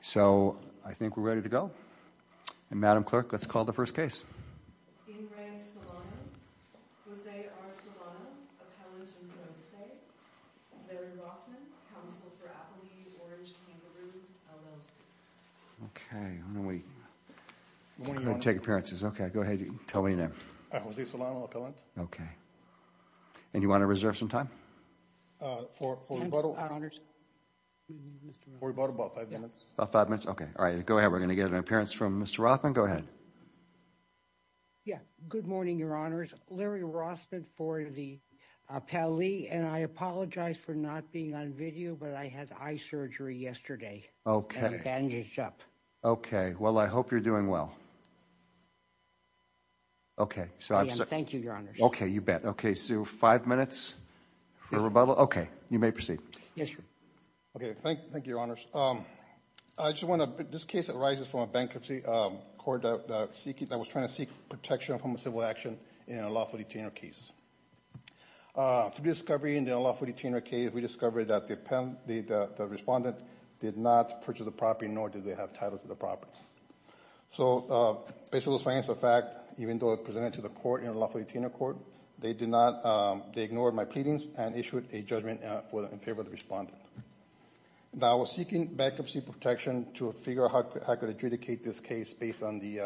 So, I think we're ready to go, and Madam Clerk, let's call the first case. In re Solano, Jose R. Solano, Appellant in Pro Se, Larry Rothman, Counsel for Applebees, Orange Kangaroo, LLC. Okay, why don't we take appearances. Okay, go ahead and tell me your name. Jose Solano, Appellant. Okay, and you want to reserve some time? For rebuttal? For rebuttal, about five minutes. About five minutes, okay. All right, go ahead. We're going to get an appearance from Mr. Rothman. Go ahead. Yeah, good morning, Your Honors. Larry Rothman for the Appellee, and I apologize for not being on video, but I had eye surgery yesterday. Okay. And it bandaged up. Okay, well, I hope you're doing well. Okay, so I'm sorry. Thank you, Your Honors. Okay, you bet. Okay, so five minutes for rebuttal. Okay, you may proceed. Okay, thank you, Your Honors. This case arises from a bankruptcy court that was trying to seek protection from a civil action in a lawful detainer case. Through discovery in the unlawful detainer case, we discovered that the respondent did not purchase the property, nor did they have title to the property. So, based on this fact, even though it presented to the court in a lawful detainer court, they ignored my pleadings and issued a judgment in favor of the respondent. Now, I was seeking bankruptcy protection to figure out how I could adjudicate this case based on the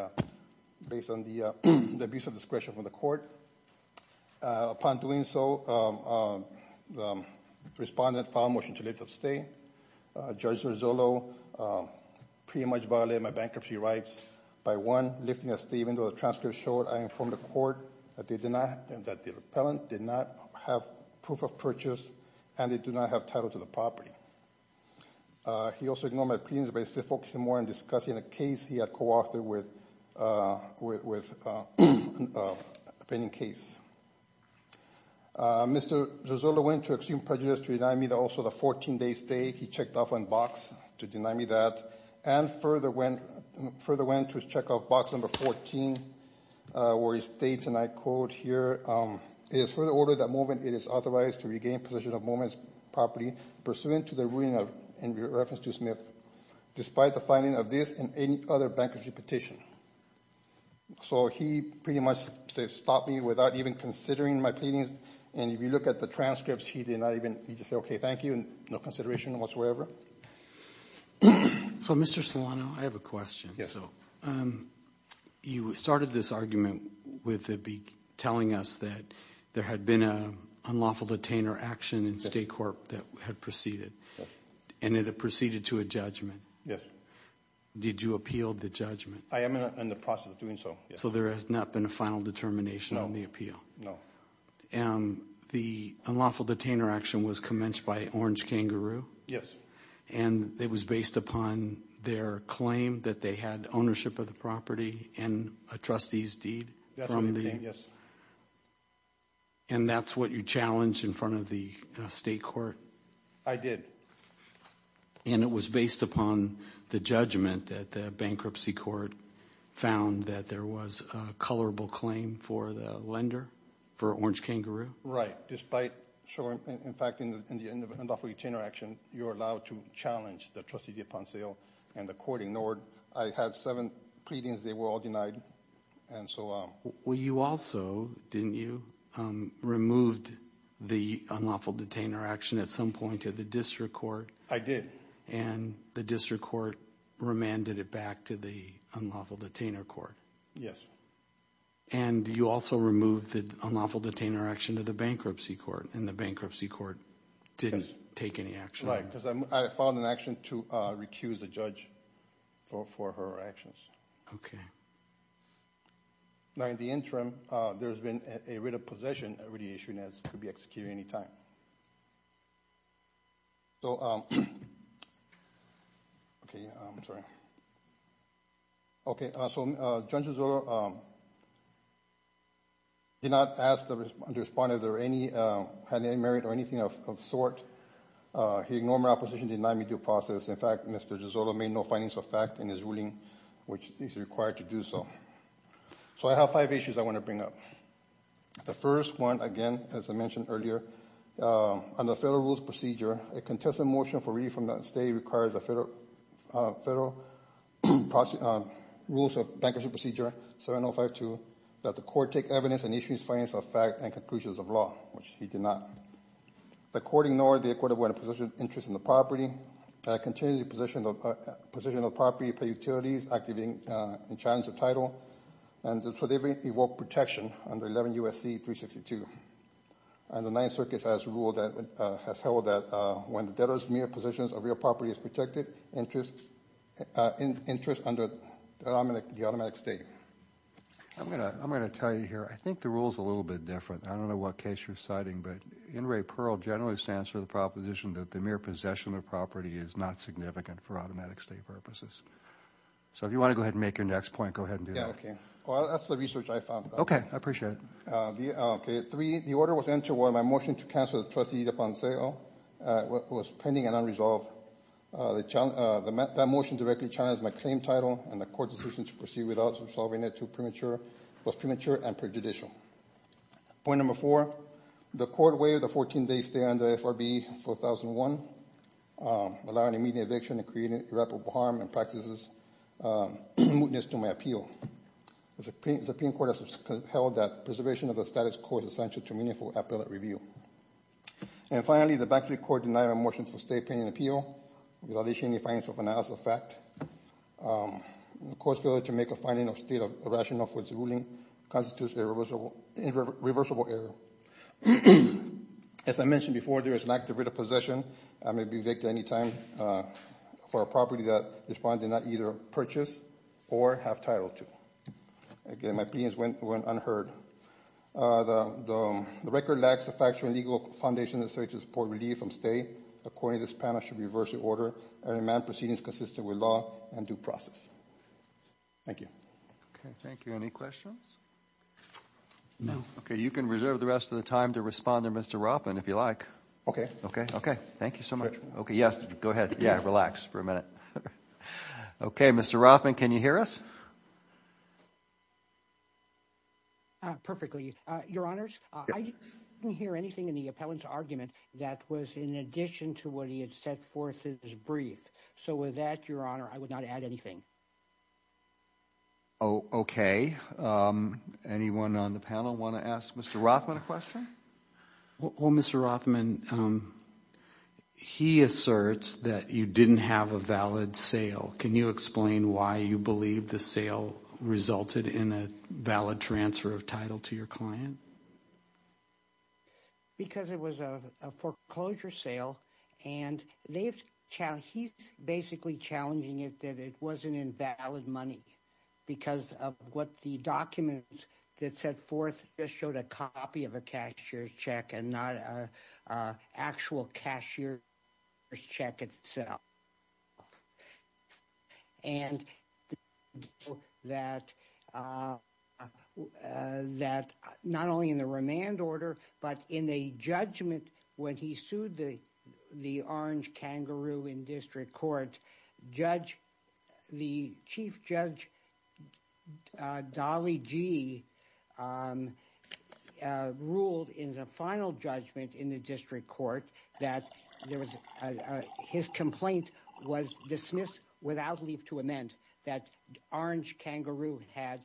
abuse of discretion from the court. Upon doing so, the respondent filed a motion to leave the state. Judge Zorzullo pretty much violated my bankruptcy rights by, one, lifting a statement where the transcript showed, I informed the court that the repellent did not have proof of purchase and they do not have title to the property. He also ignored my pleadings by focusing more on discussing a case he had co-authored with a pending case. Mr. Zorzullo went to extreme prejudice to deny me also the 14-day stay. He checked off on box to deny me that and further went to check off box number 14 where he states, and I quote here, it is for the order that moment it is authorized to regain possession of a moment's property pursuant to the ruling in reference to Smith, despite the finding of this and any other bankruptcy petition. So, he pretty much stopped me without even considering my pleadings. And if you look at the transcripts, he did not even, he just said, okay, thank you and no consideration whatsoever. So, Mr. Solano, I have a question. So, you started this argument with telling us that there had been an unlawful detainer action in State Corp that had proceeded. Yes. And it had proceeded to a judgment. Yes. Did you appeal the judgment? I am in the process of doing so, yes. So, there has not been a final determination on the appeal? No, no. And the unlawful detainer action was commenced by Orange Kangaroo? Yes. And it was based upon their claim that they had ownership of the property and a trustee's deed? Yes. And that is what you challenged in front of the State Corp? I did. And it was based upon the judgment that the bankruptcy court found that there was a colorable claim for the lender, for Orange Kangaroo? Right, despite, in fact, in the unlawful detainer action, you are allowed to challenge the trustee's deed upon sale and the court ignored. I had seven pleadings. They were all denied and so on. Well, you also, didn't you, removed the unlawful detainer action at some point to the district court? I did. And the district court remanded it back to the unlawful detainer court? Yes. And you also removed the unlawful detainer action to the bankruptcy court, and the bankruptcy court didn't take any action? Right, because I filed an action to recuse the judge for her actions. Okay. Now, in the interim, there has been a writ of possession, a writ of issuance that could be executed at any time. So, okay, I'm sorry. Okay, so Judge Gisolo did not ask the respondent if there were any, had any merit or anything of sort. He ignored my opposition, denied me due process. In fact, Mr. Gisolo made no findings of fact in his ruling, which is required to do so. So I have five issues I want to bring up. The first one, again, as I mentioned earlier, under federal rules procedure, a contested motion for relief from the state requires a federal rules of bankruptcy procedure, 7052, that the court take evidence and issues findings of fact and conclusions of law, which he did not. The court ignored the acquittal when a possession of interest in the property, continued possession of property by utilities, activating and challenging the title, and for the evoked protection under 11 U.S.C. 362. And the Ninth Circuit has ruled that, has held that when the debtor's mere possessions of real property is protected, interest under the automatic state. I'm going to tell you here, I think the rule is a little bit different. I don't know what case you're citing, but NRA Pearl generally stands for the proposition that the mere possession of property is not significant for automatic state purposes. So if you want to go ahead and make your next point, go ahead and do that. Yeah, okay. Well, that's the research I found. Okay, I appreciate it. Okay, three, the order was entered while my motion to cancel the trustee upon sale was pending and unresolved. That motion directly challenged my claim title, and the court's decision to proceed without resolving it was premature and prejudicial. Point number four, the court waived the 14-day stay under FRB 4001, allowing immediate eviction and creating irreparable harm and practices, in mootness to my appeal. The Supreme Court has held that preservation of the status quo is essential to meaningful appellate review. And finally, the bankruptcy court denied my motion for stay pending appeal, without issuing any fines of analysis of fact. The court's failure to make a finding of state of irrational for its ruling constitutes a reversible error. As I mentioned before, there is an active writ of possession, and may be evicted any time for a property that the respondent did not either purchase or have title to. Again, my plea went unheard. The record lacks the factual and legal foundation necessary to support relief from stay. Accordingly, this panel should reverse the order and demand proceedings consistent with law and due process. Thank you. Okay, thank you. Any questions? No. Okay, you can reserve the rest of the time to respond to Mr. Ropin, if you like. Okay. Okay, okay. Thank you so much. Okay, yes, go ahead. Yeah, relax for a minute. Okay, Mr. Ropin, can you hear us? Perfectly. Your Honors, I didn't hear anything in the appellant's argument that was in addition to what he had set forth in his brief. So with that, Your Honor, I would not add anything. Okay. Anyone on the panel want to ask Mr. Ropin a question? Well, Mr. Ropin, he asserts that you didn't have a valid sale. Can you explain why you believe the sale resulted in a valid transfer of title to your client? Because it was a foreclosure sale. And he's basically challenging it that it was an invalid money because of what the documents that set forth just showed a copy of a cashier's check and not an actual cashier's check itself. And that not only in the remand order, but in a judgment when he sued the orange kangaroo in district court, the chief judge, Dolly Gee, ruled in the final judgment in the district court that his complaint was dismissed without leave to amend. That orange kangaroo had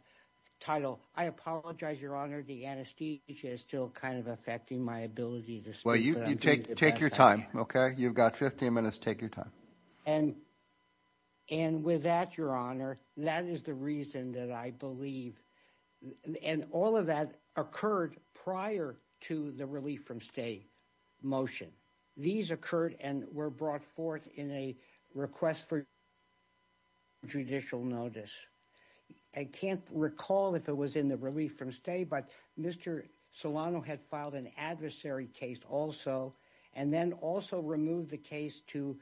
title. I apologize, Your Honor, the anesthesia is still kind of affecting my ability to speak. Well, take your time, okay? You've got 15 minutes. Take your time. And with that, Your Honor, that is the reason that I believe. And all of that occurred prior to the relief from stay motion. These occurred and were brought forth in a request for judicial notice. I can't recall if it was in the relief from stay, but Mr. Solano had filed an adversary case also. And then also removed the case to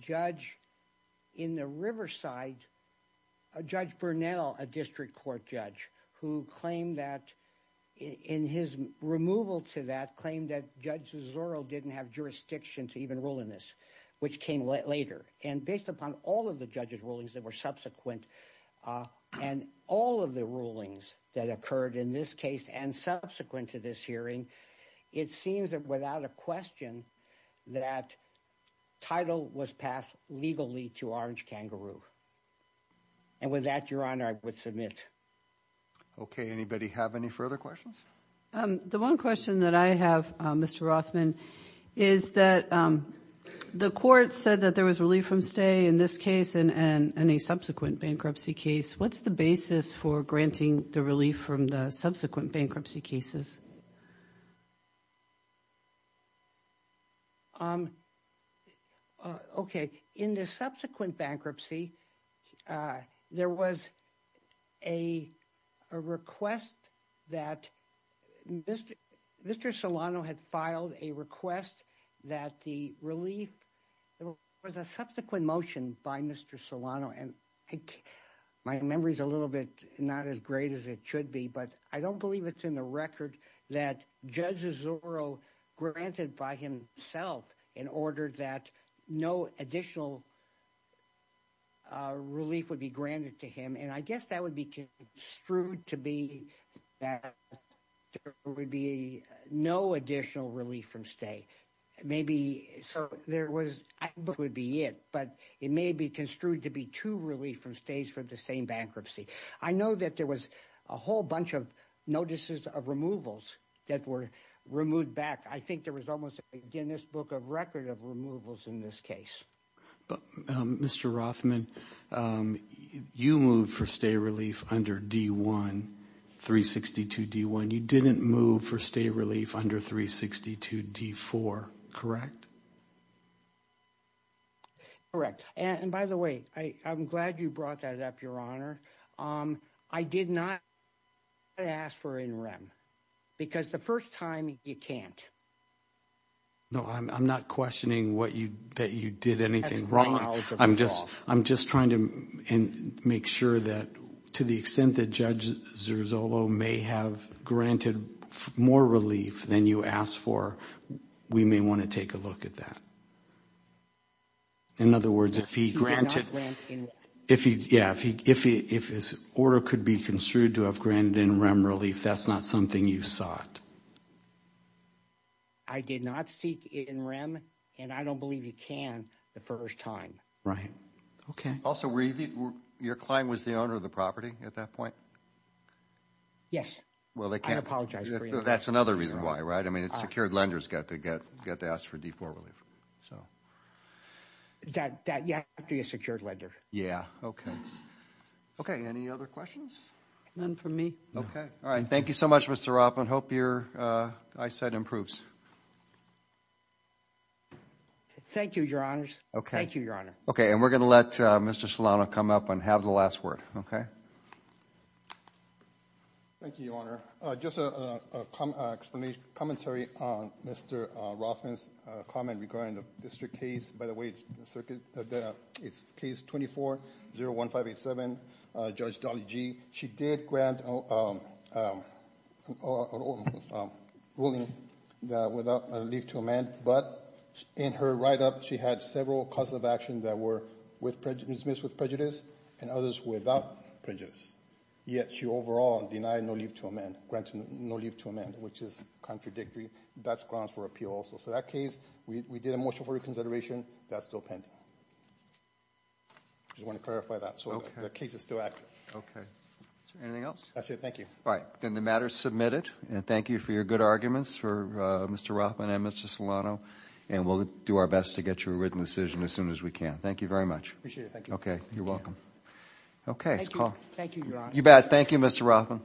judge in the Riverside, Judge Burnell, a district court judge, who claimed that in his removal to that claim that Judge Zorro didn't have jurisdiction to even rule in this, which came later. And based upon all of the judge's rulings that were subsequent and all of the rulings that occurred in this case and subsequent to this hearing, it seems that without a question that title was passed legally to orange kangaroo. And with that, Your Honor, I would submit. Okay, anybody have any further questions? The one question that I have, Mr. Rothman, is that the court said that there was relief from stay in this case and any subsequent bankruptcy case. What's the basis for granting the relief from the subsequent bankruptcy cases? Okay, in the subsequent bankruptcy, there was a request that Mr. Solano had filed a request that the relief was a subsequent motion by Mr. Solano. My memory's a little bit not as great as it should be, but I don't believe it's in the record that judges Zorro granted by himself in order that no additional relief would be granted to him. And I guess that would be construed to be that there would be no additional relief from stay. Maybe there was, but it would be it, but it may be construed to be to relief from stays for the same bankruptcy. I know that there was a whole bunch of notices of removals that were removed back. I think there was almost a Guinness Book of Record of removals in this case. Mr. Rothman, you moved for stay relief under D-1, 362 D-1. You didn't move for stay relief under 362 D-4, correct? Correct. And by the way, I'm glad you brought that up, Your Honor. I did not ask for an interim because the first time you can't. No, I'm not questioning that you did anything wrong. I'm just trying to make sure that to the extent that Judge Zirzolo may have granted more relief than you asked for, we may want to take a look at that. In other words, if he granted, yeah, if his order could be construed to have granted interim relief, that's not something you sought. I did not seek interim, and I don't believe you can the first time. Right. Okay. Also, your client was the owner of the property at that point? Yes. Well, they can't. That's another reason why, right? I mean, secured lenders get to ask for D-4 relief. You have to be a secured lender. Yeah. Okay. Okay. Any other questions? None from me. Okay. All right. Thank you so much, Mr. Ropp. I hope your eyesight improves. Thank you, Your Honors. Okay. Thank you, Your Honor. Okay. And we're going to let Mr. Solano come up and have the last word. Okay? Thank you, Your Honor. Just a commentary on Mr. Rothman's comment regarding the district case. By the way, it's case 24-01587, Judge Dolly Gee. She did grant a ruling without relief to amend, but in her write-up, she had several causes of action that were dismissed with prejudice and others without prejudice. Yet she overall denied no relief to amend, granted no relief to amend, which is contradictory. That's grounds for appeal also. So that case, we did a motion for reconsideration. That's still pending. I just want to clarify that. So the case is still active. Okay. Anything else? That's it. Thank you. All right. Then the matter is submitted, and thank you for your good arguments for Mr. Rothman and Mr. Solano. And we'll do our best to get you a written decision as soon as we can. Thank you very much. Appreciate it. Thank you. Okay. You're welcome. Okay. Thank you, Your Honor. You bet. Thank you, Mr. Rothman.